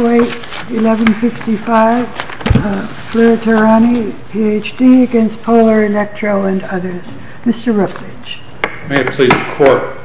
1155, Fleur Tehrani, Ph.D. against Polar Electro and others. Mr. Rookridge. May it please the Court.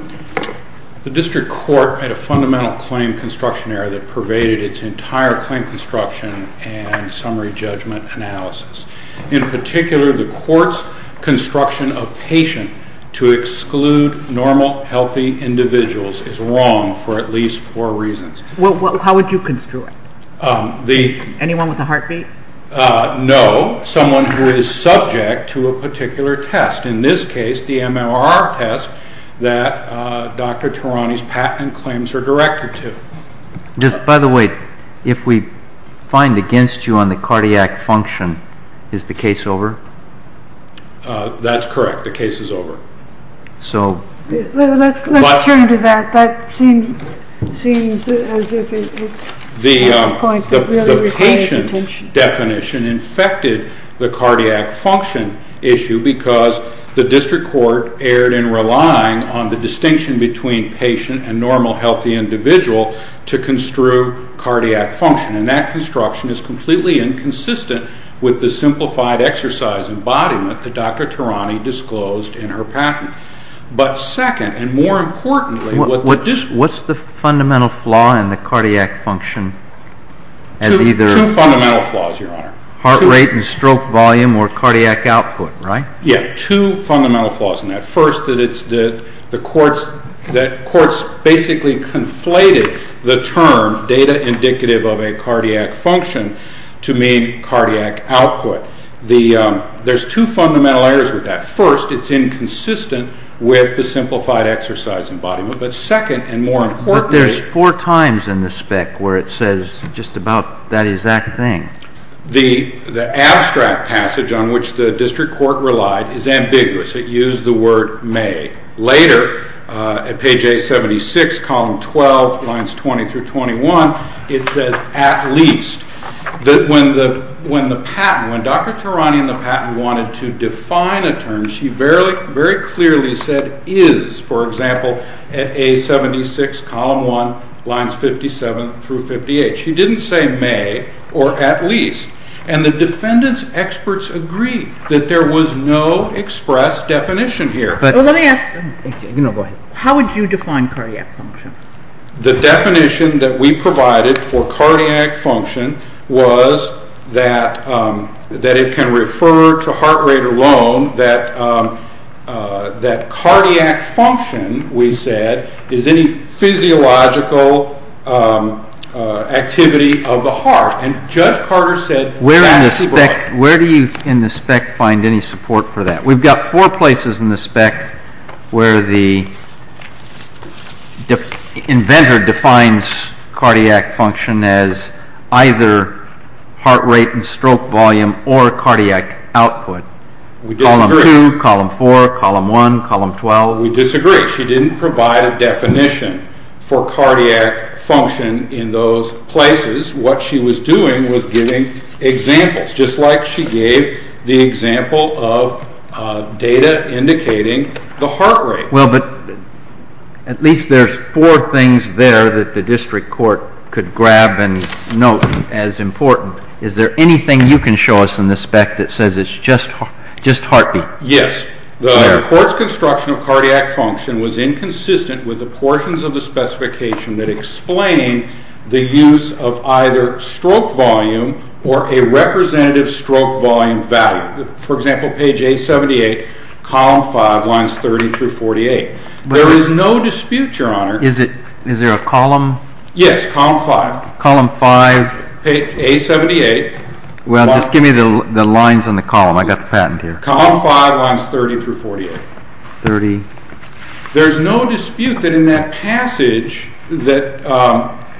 The District Court had a fundamental claim construction error that pervaded its entire claim construction and summary judgment analysis. In particular, the Court's construction of patient to exclude normal, healthy individuals is wrong for at least four reasons. Ms. Atkins. How would you construe it? Mr. Rookridge. The… Ms. Atkins. Anyone with a heartbeat? Mr. Rookridge. No. Someone who is subject to a particular test. In this case, the MRR test that Dr. Tehrani's patent claims are directed to. Mr. Sperling. Just, by the way, if we find against you on the cardiac function, is the case over? That's correct. The case is over. Mr. Sperling. So… Ms. Atkins. Ms. Atkins. Let's turn to that. That seems as if it's… Mr. Rookridge. The patient definition infected the cardiac function issue because the District Court erred in relying on the distinction between patient and normal, healthy individual to construe cardiac function, and that construction is completely inconsistent with the simplified exercise embodiment that Dr. Tehrani disclosed in her patent. But, second, and more importantly, what this… Mr. Sperling. What's the fundamental flaw in the cardiac function as either… Mr. Rookridge. Two fundamental flaws, Your Honor. Two… Mr. Sperling. Heart rate and stroke volume or cardiac output, right? Mr. Rookridge. Yeah. Two fundamental flaws in that. First, that it's the… The courts… That courts basically conflated the term data indicative of a cardiac function to mean cardiac output. The… There's two fundamental errors with that. First, it's inconsistent with the simplified exercise embodiment, but, second, and more importantly… But there's four times in the spec where it says just about that exact thing. The abstract passage on which the District Court relied is ambiguous. It used the word may. Later, at page 876, column 12, lines 20 through 21, it says at least. When the patent, when Dr. Tarani and the patent wanted to define a term, she very clearly said is, for example, at A76, column 1, lines 57 through 58. She didn't say may or at least, and the defendant's experts agreed that there was no express definition here. But… Let me ask… You know what? How would you define cardiac function? The definition that we provided for cardiac function was that it can refer to heart rate alone, that cardiac function, we said, is any physiological activity of the heart, and Judge Carter said… Where in the spec, where do you, in the spec, find any support for that? We've got four places in the spec where the inventor defines cardiac function as either heart rate and stroke volume or cardiac output. We disagree. Column 2, column 4, column 1, column 12. We disagree. She didn't provide a definition for cardiac function in those places. What she was doing was giving examples, just like she gave the example of data indicating the heart rate. Well, but at least there's four things there that the district court could grab and note as important. Is there anything you can show us in the spec that says it's just heart beat? Yes. The court's construction of cardiac function was inconsistent with the portions of the either stroke volume or a representative stroke volume value. For example, page A78, column 5, lines 30 through 48. There is no dispute, Your Honor. Is it, is there a column? Yes, column 5. Column 5. Page A78. Well, just give me the lines on the column. I've got the patent here. Column 5, lines 30 through 48. 30. There's no dispute that in that passage that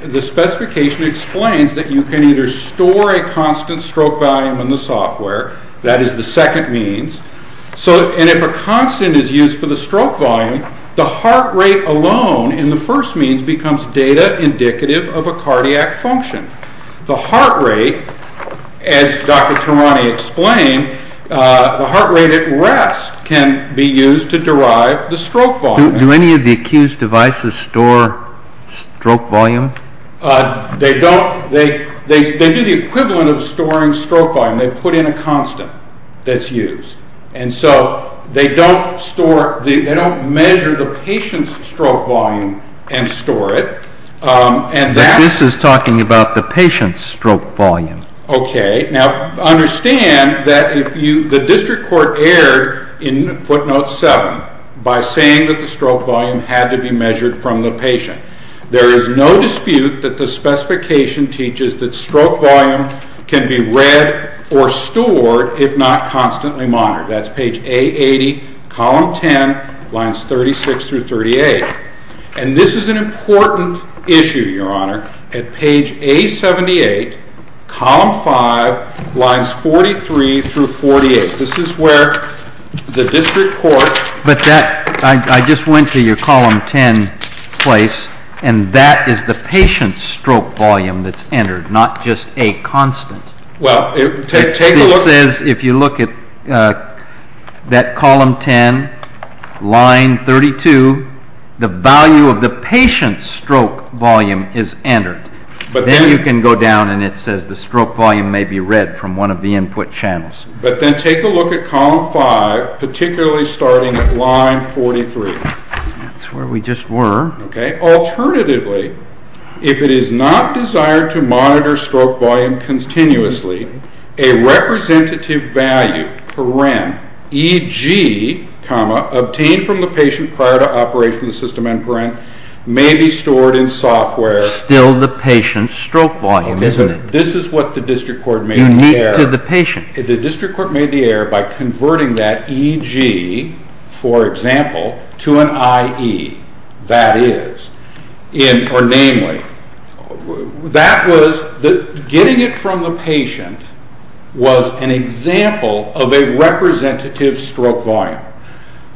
the specification explains that you can either store a constant stroke volume in the software, that is the second means, and if a constant is used for the stroke volume, the heart rate alone in the first means becomes data indicative of a cardiac function. The heart rate, as Dr. Tarani explained, the heart rate at rest can be used to derive the stroke volume. Do any of the accused devices store stroke volume? They don't. They do the equivalent of storing stroke volume. They put in a constant that's used. And so they don't store, they don't measure the patient's stroke volume and store it. But this is talking about the patient's stroke volume. Okay. Now understand that if you, the district court erred in footnote 7 by saying that the stroke volume had to be measured from the patient. There is no dispute that the specification teaches that stroke volume can be read or stored if not constantly monitored. That's page A80, column 10, lines 36 through 38. And this is an important issue, Your Honor. At page A78, column 5, lines 43 through 48. This is where the district court. But that, I just went to your column 10 place, and that is the patient's stroke volume that's entered, not just a constant. Well, take a look. It says if you look at that column 10, line 32, the value of the patient's stroke volume is entered. But then you can go down and it says the stroke volume may be read from one of the input channels. But then take a look at column 5, particularly starting at line 43. That's where we just were. Alternatively, if it is not desired to monitor stroke volume continuously, a representative value, paren, e.g., obtained from the patient prior to operation of the system and paren, may be stored in software. Still the patient's stroke volume, isn't it? This is what the district court made the error. The district court made the error by converting that e.g., for example, to an I.E. That is, or namely, that was, getting it from the patient was an example of a representative stroke volume.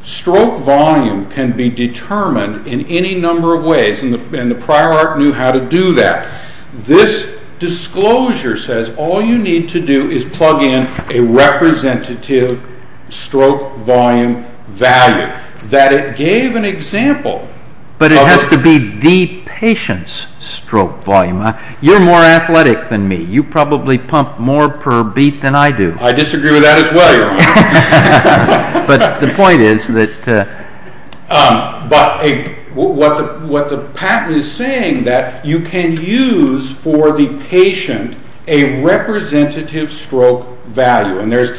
Stroke volume can be determined in any number of ways, and the prior art knew how to do that. This disclosure says all you need to do is plug in a representative stroke volume value. That it gave an example. But it has to be the patient's stroke volume. You're more athletic than me. You probably pump more per beat than I do. I disagree with that as well, Your Honor. But the point is that... But what the patent is saying that you can use for the patient a representative stroke value. And there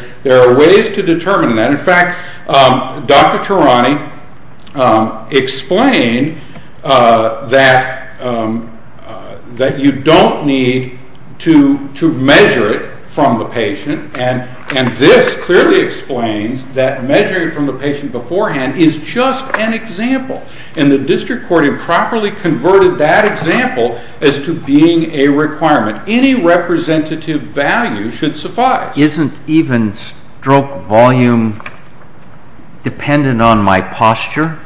are ways to determine that. In fact, Dr. Tarani explained that you don't need to measure it from the patient. And this clearly explains that measuring it from the patient beforehand is just an example. And the district court improperly converted that example as to being a requirement. Any representative value should suffice. Isn't even stroke volume dependent on my posture?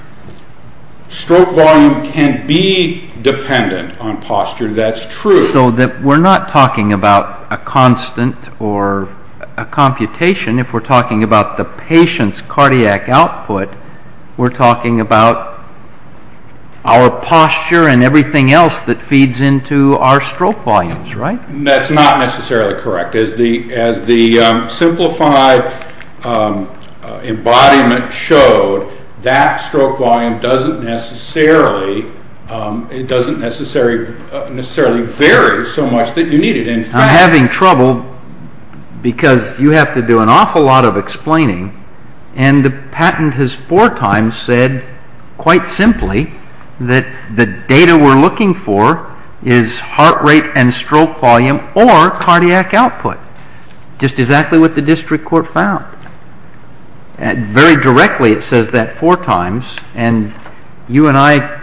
Stroke volume can be dependent on posture. That's true. So we're not talking about a constant or a computation. If we're talking about the patient's cardiac output, we're talking about our posture and everything else that feeds into our stroke volumes, right? That's not necessarily correct. As the simplified embodiment showed, that stroke volume doesn't necessarily vary so much that you need it. In fact... I'm having trouble because you have to do an awful lot of explaining. And the patent has four times said, quite simply, that the data we're looking for is heart rate and stroke volume or cardiac output. Just exactly what the district court found. Very directly it says that four times. And you and I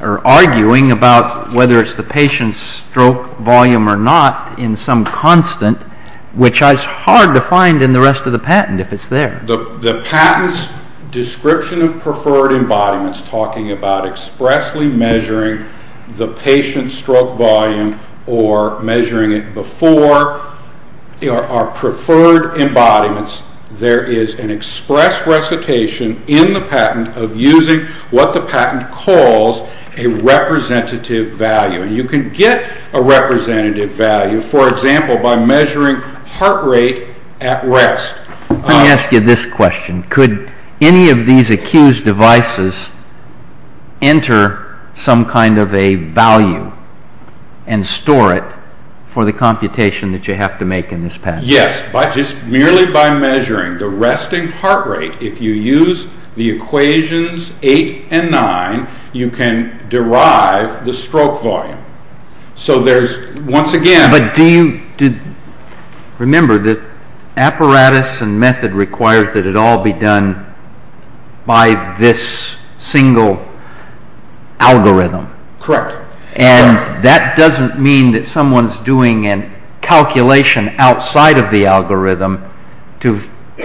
are arguing about whether it's the patient's stroke volume or not in some constant, which is hard to find in the rest of the patent if it's there. The patent's description of preferred embodiments talking about expressly measuring the patient's stroke volume or measuring it before our preferred embodiments. There is an express recitation in the patent of using what the patent calls a representative value. And you can get a representative value, for example, by measuring heart rate at rest. Let me ask you this question. Could any of these accused devices enter some kind of a value and store it for the computation that you have to make in this patent? Yes, just merely by measuring the resting heart rate, if you use the equations eight and nine, you can derive the stroke volume. So there's, once again... Do you remember that apparatus and method requires that it all be done by this single algorithm? Correct. And that doesn't mean that someone's doing a calculation outside of the algorithm to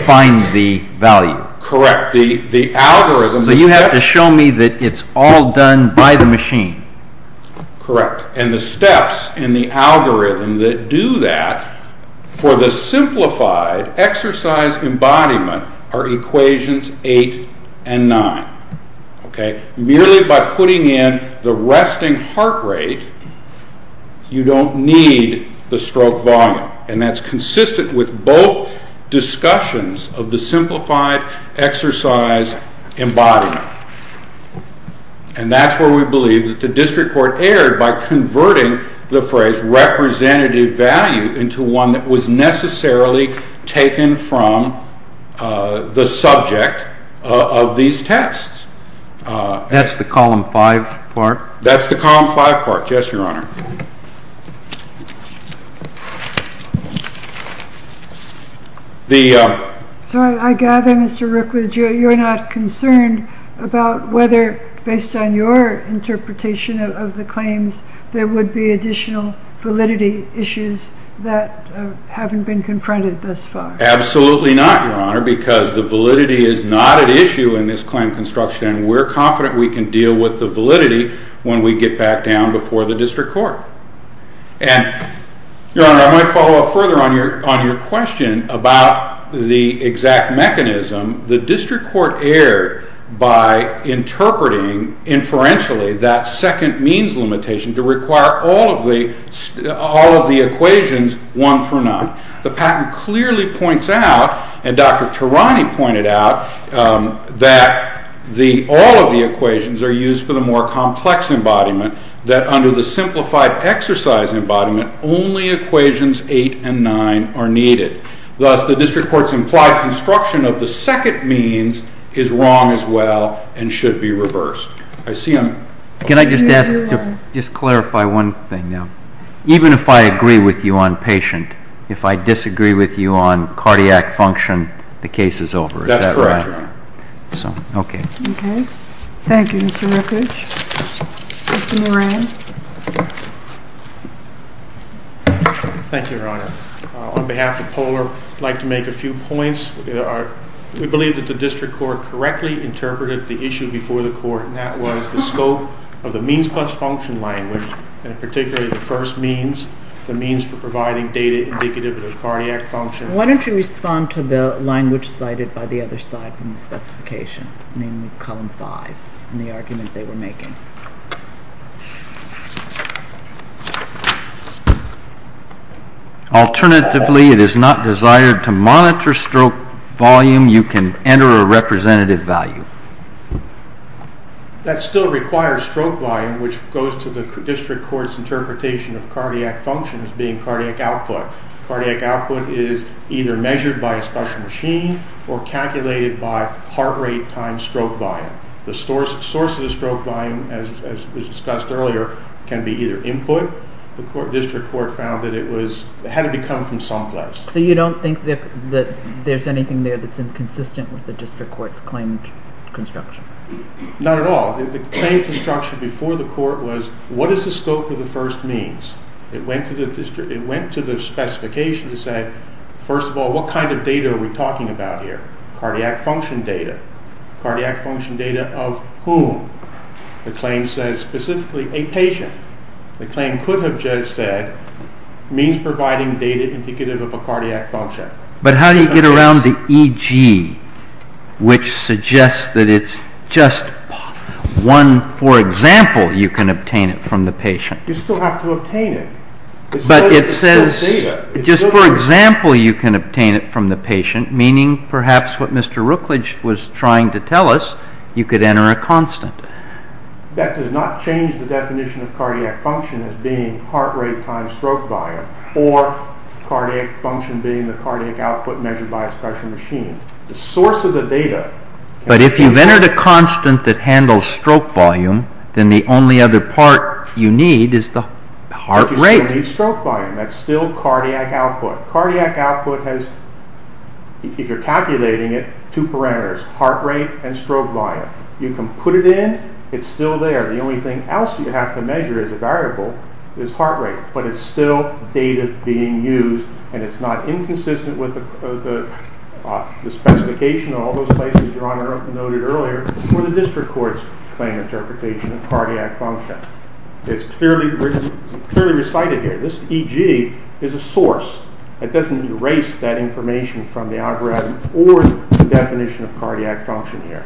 find the value. Correct. The algorithm... So you have to show me that it's all done by the machine. Correct. And the steps in the algorithm that do that for the simplified exercise embodiment are equations eight and nine. Okay? Merely by putting in the resting heart rate, you don't need the stroke volume. And that's consistent with both discussions of the simplified exercise embodiment. Now, and that's where we believe that the district court erred by converting the phrase representative value into one that was necessarily taken from the subject of these tests. That's the column five part? That's the column five part, yes, Your Honor. So I gather, Mr. Rookwood, you're not concerned about whether, based on your interpretation of the claims, there would be additional validity issues that haven't been confronted thus far. Absolutely not, Your Honor, because the validity is not at issue in this claim construction. We're confident we can deal with the validity when we get back down before the district court. And, Your Honor, I might follow up further on your question about the exact mechanism. The district court erred by interpreting, inferentially, that second means limitation to require all of the equations one through nine. The patent clearly points out, and Dr. Tarani pointed out, that all of the equations are used for the more complex embodiment, that under the simplified exercise embodiment, only equations eight and nine are needed. Thus, the district court's implied construction of the second means is wrong as well and should be reversed. I see I'm... Can I just ask to just clarify one thing now? Even if I agree with you on patient, if I disagree with you on cardiac function, the case is over. Is that right? That's correct, Your Honor. So, okay. Okay. Thank you, Mr. Rookwood. Mr. Moran. Thank you, Your Honor. On behalf of Polar, I'd like to make a few points. We believe that the district court correctly interpreted the issue before the court, and that was the scope of the means plus function language, and particularly the first means, the means for providing data indicative of the cardiac function. Why don't you respond to the language cited by the other side from the specification, namely column five, and the argument they were making? Alternatively, it is not desired to monitor stroke volume. You can enter a representative value. That still requires stroke volume, which goes to the district court's interpretation of cardiac function as being cardiac output. Cardiac output is either measured by a special machine or calculated by heart rate times stroke volume. The source of the stroke volume, as was discussed earlier, can be either input. The district court found that it had to come from some place. So you don't think that there's anything there that's inconsistent with the district court's claim construction? Not at all. The claim construction before the court was, what is the scope of the first means? It went to the district. It went to the specification to say, first of all, what kind of data are we talking about here? Cardiac function data. Cardiac function data of whom? The claim says specifically a patient. The claim could have just said, means providing data indicative of a cardiac function. But how do you get around the EG, which suggests that it's just one, for example, you can obtain it from the patient? You still have to obtain it. But it says, just for example, you can obtain it from the patient, meaning perhaps what Mr. Rookledge was trying to tell us, you could enter a constant. That does not change the definition of cardiac function as being heart rate times stroke volume, or cardiac function being the cardiac output measured by a special machine. The source of the data... But if you've entered a constant that handles stroke volume, then the only other part you need is the heart rate. But you still need stroke volume. That's still cardiac output. Cardiac output has, if you're calculating it, two parameters, heart rate and stroke volume. You can put it in. It's still there. The only thing else you have to measure as a variable is heart rate. But it's still data being used, and it's not inconsistent with the specification of all those places Your Honor noted earlier for the district court's claim interpretation of cardiac function. It's clearly recited here. This EG is a source. It doesn't erase that information from the algorithm or the definition of cardiac function here.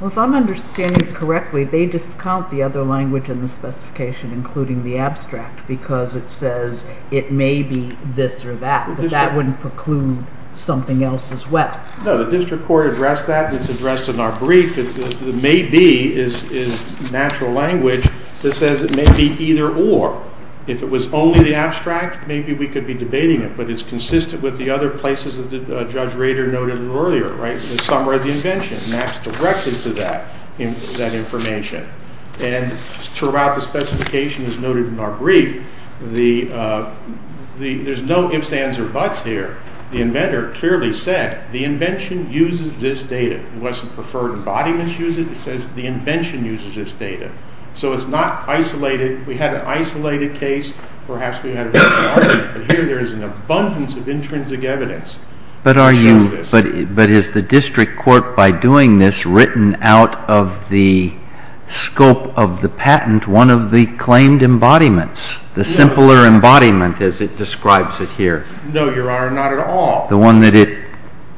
Well, if I'm understanding it correctly, they discount the other language in the specification, including the abstract, because it says it may be this or that, but that wouldn't preclude something else as well. No, the district court addressed that, and it's addressed in our brief. The may be is natural language that says it may be either or. If it was only the abstract, maybe we could be debating it, but it's consistent with the other places that Judge Rader noted earlier, right, the summary of the invention, and that's directed to that information. And throughout the specification, as noted in our brief, there's no ifs, ands, or buts here. The inventor clearly said the invention uses this data. It wasn't preferred embodiments use it. It says the invention uses this data. So it's not isolated. We had an isolated case. Perhaps we had a different argument, but here there is an abundance of intrinsic evidence that shows this. But is the district court, by doing this, written out of the scope of the patent one of the claimed embodiments, the simpler embodiment as it describes it here? No, Your Honor, not at all. The one that it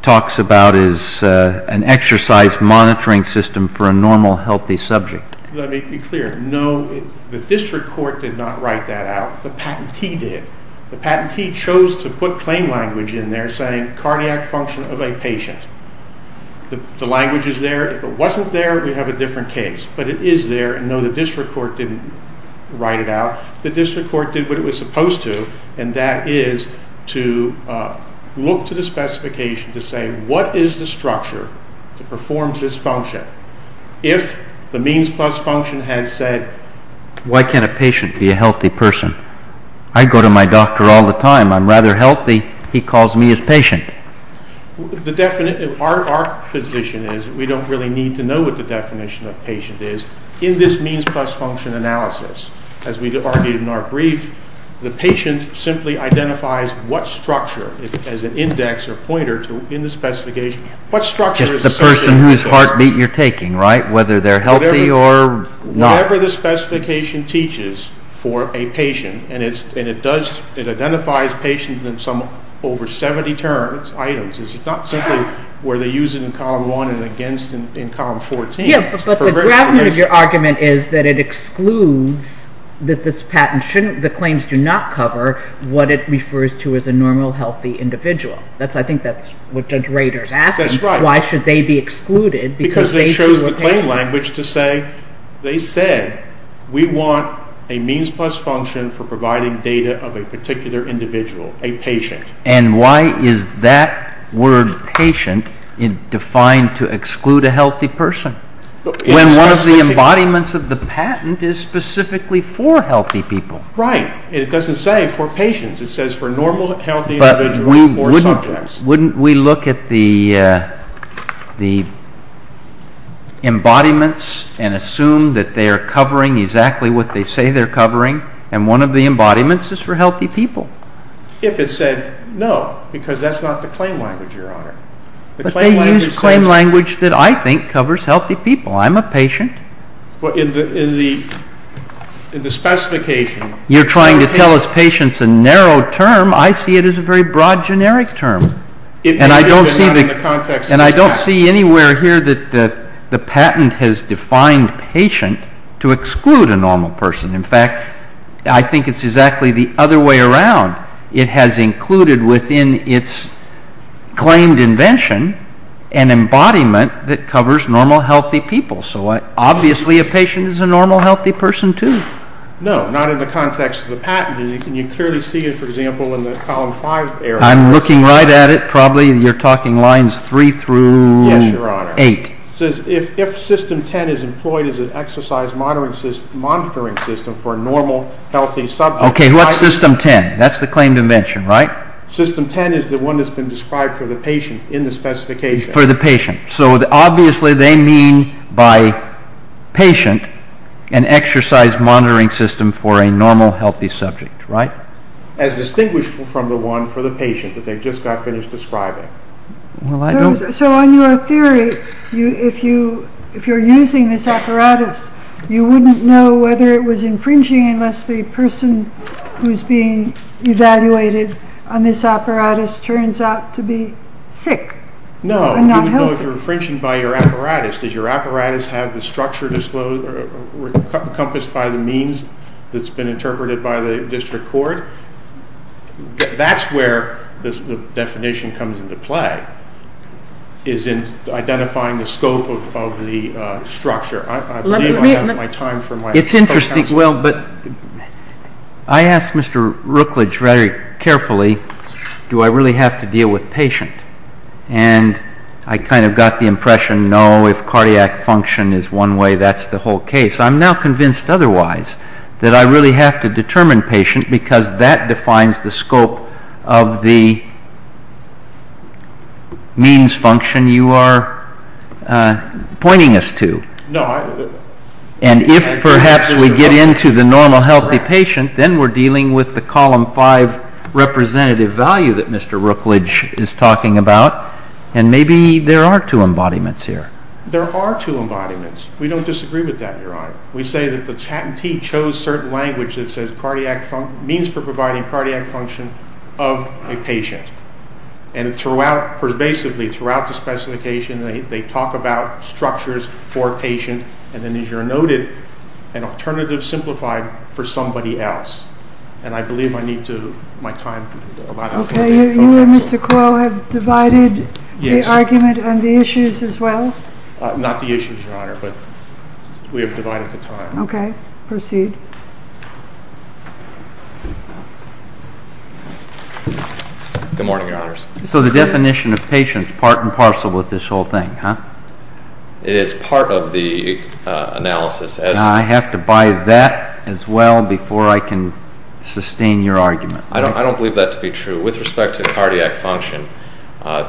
talks about is an exercise monitoring system for a normal, healthy subject. Let me be clear. No, the district court did not write that out. The patentee did. The patentee chose to put claim language in there saying cardiac function of a patient. The language is there. If it wasn't there, we have a different case. But it is there, and no, the district court didn't write it out. The district court did what it was supposed to, and that is to look to the specification to say what is the structure to perform this function? If the means plus function had said, why can't a patient be a healthy person? I go to my doctor all the time. I'm rather healthy. He calls me his patient. Our position is that we don't really need to know what the definition of patient is in this means plus function analysis, as we argued in our brief. The patient simply identifies what structure, as an index or pointer in the specification, what structure is associated with this? The person whose heartbeat you're taking, right? Whether they're healthy or not. Whatever the specification teaches for a patient, and it identifies patients in some over 70 terms, items. It's not simply where they use it in column 1 and against in column 14. Yeah, but the gravity of your argument is that it excludes, that this patent shouldn't, the claims do not cover what it refers to as a normal, healthy individual. I think that's what Judge Rader is asking. That's right. Why should they be excluded? Because they chose the claim language to say, they said, we want a means plus function for providing data of a particular individual, a patient. And why is that word, patient, defined to exclude a healthy person, when one of the embodiments of the patent is specifically for healthy people? Right. It doesn't say for patients. It says for normal, healthy individuals or subjects. Wouldn't we look at the embodiments and assume that they are covering exactly what they say they're covering, and one of the embodiments is for healthy people? If it said no, because that's not the claim language, Your Honor. But they use claim language that I think covers healthy people. I'm a patient. In the specification. You're trying to tell us patient's a narrow term. I see it as a very broad, generic term. And I don't see anywhere here that the patent has defined patient to exclude a normal person. In fact, I think it's exactly the other way around. It has included within its claimed invention an embodiment that covers normal, healthy people. So obviously a patient is a normal, healthy person too. No, not in the context of the patent. Can you clearly see it, for example, in the column 5 area? I'm looking right at it, probably. You're talking lines 3 through 8. Yes, Your Honor. It says if system 10 is employed as an exercise monitoring system for a normal, healthy subject. Okay, what's system 10? That's the claim invention, right? System 10 is the one that's been described for the patient in the specification. For the patient. So, obviously, they mean by patient an exercise monitoring system for a normal, healthy subject, right? As distinguished from the one for the patient that they just got finished describing. So on your theory, if you're using this apparatus, you wouldn't know whether it was infringing unless the person who's being evaluated on this apparatus turns out to be sick, not healthy. If it's infringing by your apparatus, does your apparatus have the structure encompassed by the means that's been interpreted by the district court? That's where the definition comes into play, is in identifying the scope of the structure. I believe I have my time for my expo counsel. It's interesting. Well, but I asked Mr. Rookledge very carefully, do I really have to deal with patient? And I kind of got the impression, no, if cardiac function is one way, that's the whole case. I'm now convinced otherwise, that I really have to determine patient because that defines the scope of the means function you are pointing us to. And if perhaps we get into the normal, healthy patient, then we're dealing with the column five representative value that Mr. Rookledge is talking about, and maybe there are two embodiments here. There are two embodiments. We don't disagree with that, Your Honor. We say that the Chattentee chose certain language that says means for providing cardiac function of a patient. And throughout, basically throughout the specification, they talk about structures for a patient, and then as you noted, an alternative simplified for somebody else. And I believe I need to, my time, a lot of time. Okay, you and Mr. Quo have divided the argument on the issues as well? Not the issues, Your Honor, but we have divided the time. Okay, proceed. Good morning, Your Honors. So the definition of patient's part and parcel with this whole thing, huh? It is part of the analysis as. I have to buy that as well before I can sustain your argument. I don't believe that to be true. With respect to cardiac function,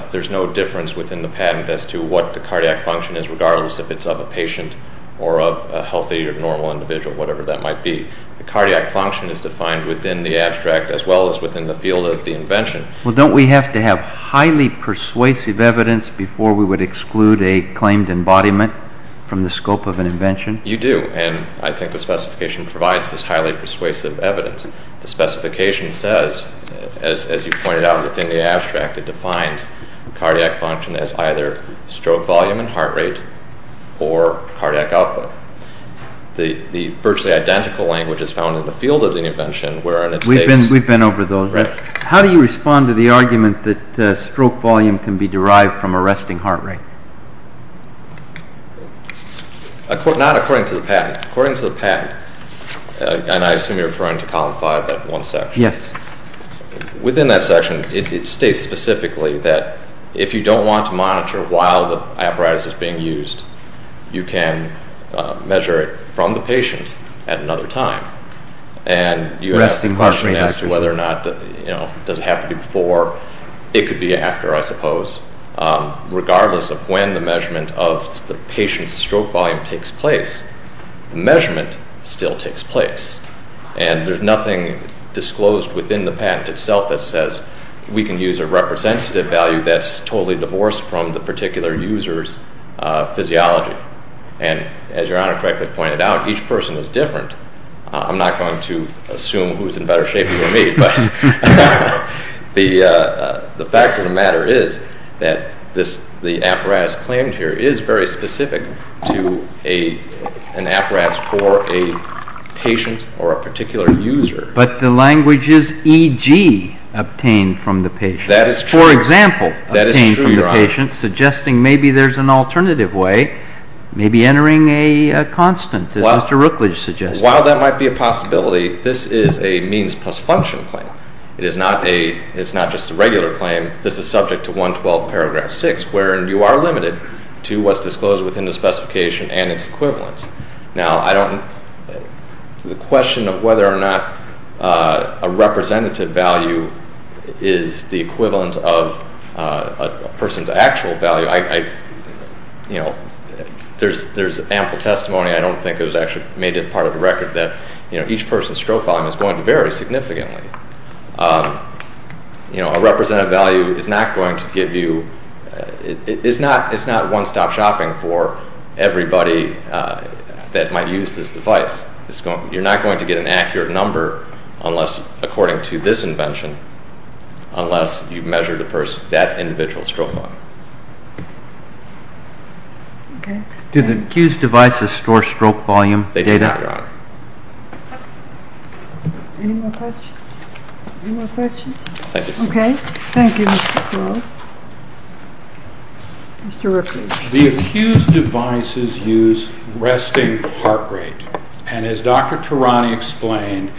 there's no difference within the patent as to what the cardiac function is, regardless if it's of a patient or of a healthy or normal individual, whatever that might be. The cardiac function is defined within the abstract as well as within the field of the invention. Well, don't we have to have highly persuasive evidence before we would exclude a claimed embodiment from the scope of an invention? You do, and I think the specification provides this highly persuasive evidence. The specification says, as you pointed out, within the abstract, it defines cardiac function as either stroke volume and heart rate or cardiac output. The virtually identical language is found in the field of the invention, where in its case- We've been over those. How do you respond to the argument that stroke volume can be derived from a resting heart rate? Not according to the patent. According to the patent, and I assume you're referring to column five, that one section. Yes. Within that section, it states specifically that if you don't want to monitor while the apparatus is being used, you can measure it from the patient at another time. And you would ask the question as to whether or not, does it have to be before? It could be after, I suppose. Regardless of when the measurement of the patient's stroke volume takes place, the measurement still takes place. And there's nothing disclosed within the patent itself that says, we can use a representative value that's totally divorced from the particular user's physiology. And as your honor correctly pointed out, each person is different. I'm not going to assume who's in better shape, you or me. But the fact of the matter is that the apparatus claimed here is very specific to an apparatus for a patient or a particular user. But the language is EG, obtained from the patient. That is true. For example, obtained from the patient, suggesting maybe there's an alternative way, maybe entering a constant, as Mr. Rookledge suggested. While that might be a possibility, this is a means plus function claim. It is not just a regular claim. This is subject to 112 paragraph 6, wherein you are limited to what's disclosed within the specification and its equivalence. Now, the question of whether or not a representative value is the equivalent of a person's actual value, there's ample testimony. I don't think it was actually made a part of the record that each person's stroke volume is going to vary significantly. A representative value is not going to give you, it's not one-stop shopping for everybody that might use this device. You're not going to get an accurate number, according to this invention, unless you measure that individual's stroke volume. Do the Accused devices store stroke volume data? Any more questions? Thank you. Okay. Thank you, Mr. Rookledge. Mr. Rookledge. The Accused devices use resting heart rate. And as Dr. Tarani explained,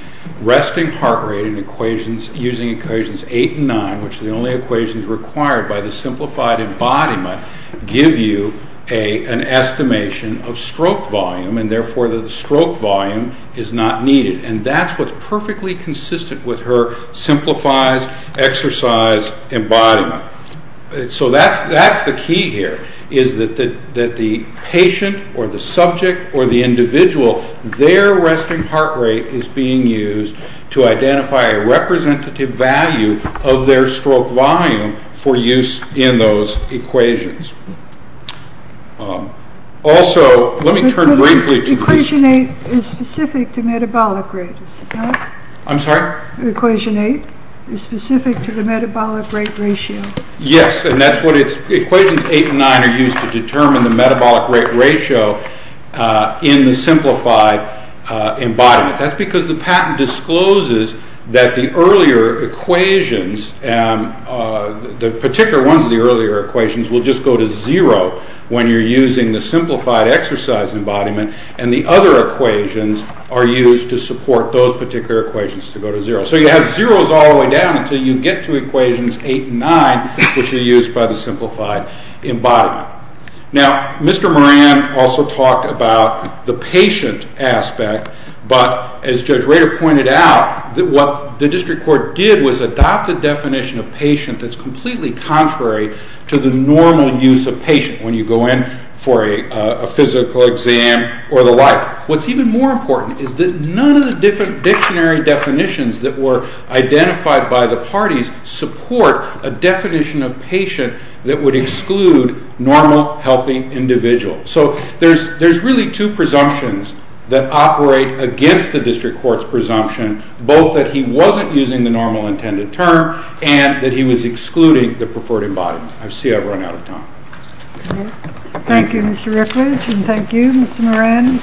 resting heart rate in equations, using equations 8 and 9, which the only equations required by the simplified embodiment, give you an estimation of stroke volume, and therefore the stroke volume is not needed. And that's what's perfectly consistent with her simplified exercise embodiment. So that's the key here, is that the patient or the subject or the individual, their resting heart rate is being used to identify a representative value of their stroke volume for use in those equations. Also, let me turn briefly to this. But equation 8 is specific to metabolic rate, is it not? I'm sorry? Equation 8 is specific to the metabolic rate ratio. Yes, and equations 8 and 9 are used to determine the metabolic rate ratio in the simplified embodiment. That's because the patent discloses that the particular ones of the earlier equations will just go to zero when you're using the simplified exercise embodiment, and the other equations are used to support those particular equations to go to zero. So you have zeros all the way down until you get to equations 8 and 9, which are used by the simplified embodiment. Now, Mr. Moran also talked about the patient aspect, but as Judge Rader pointed out, what the district court did was adopt a definition of patient that's completely contrary to the normal use of patient when you go in for a physical exam or the like. What's even more important is that none of the different dictionary definitions that were identified by the parties support a definition of patient that would exclude normal, healthy individuals. So there's really two presumptions that operate against the district court's presumption, both that he wasn't using the normal intended term and that he was excluding the preferred embodiment. I see I've run out of time. Thank you, Mr. Rickledge, and thank you, Mr. Moran.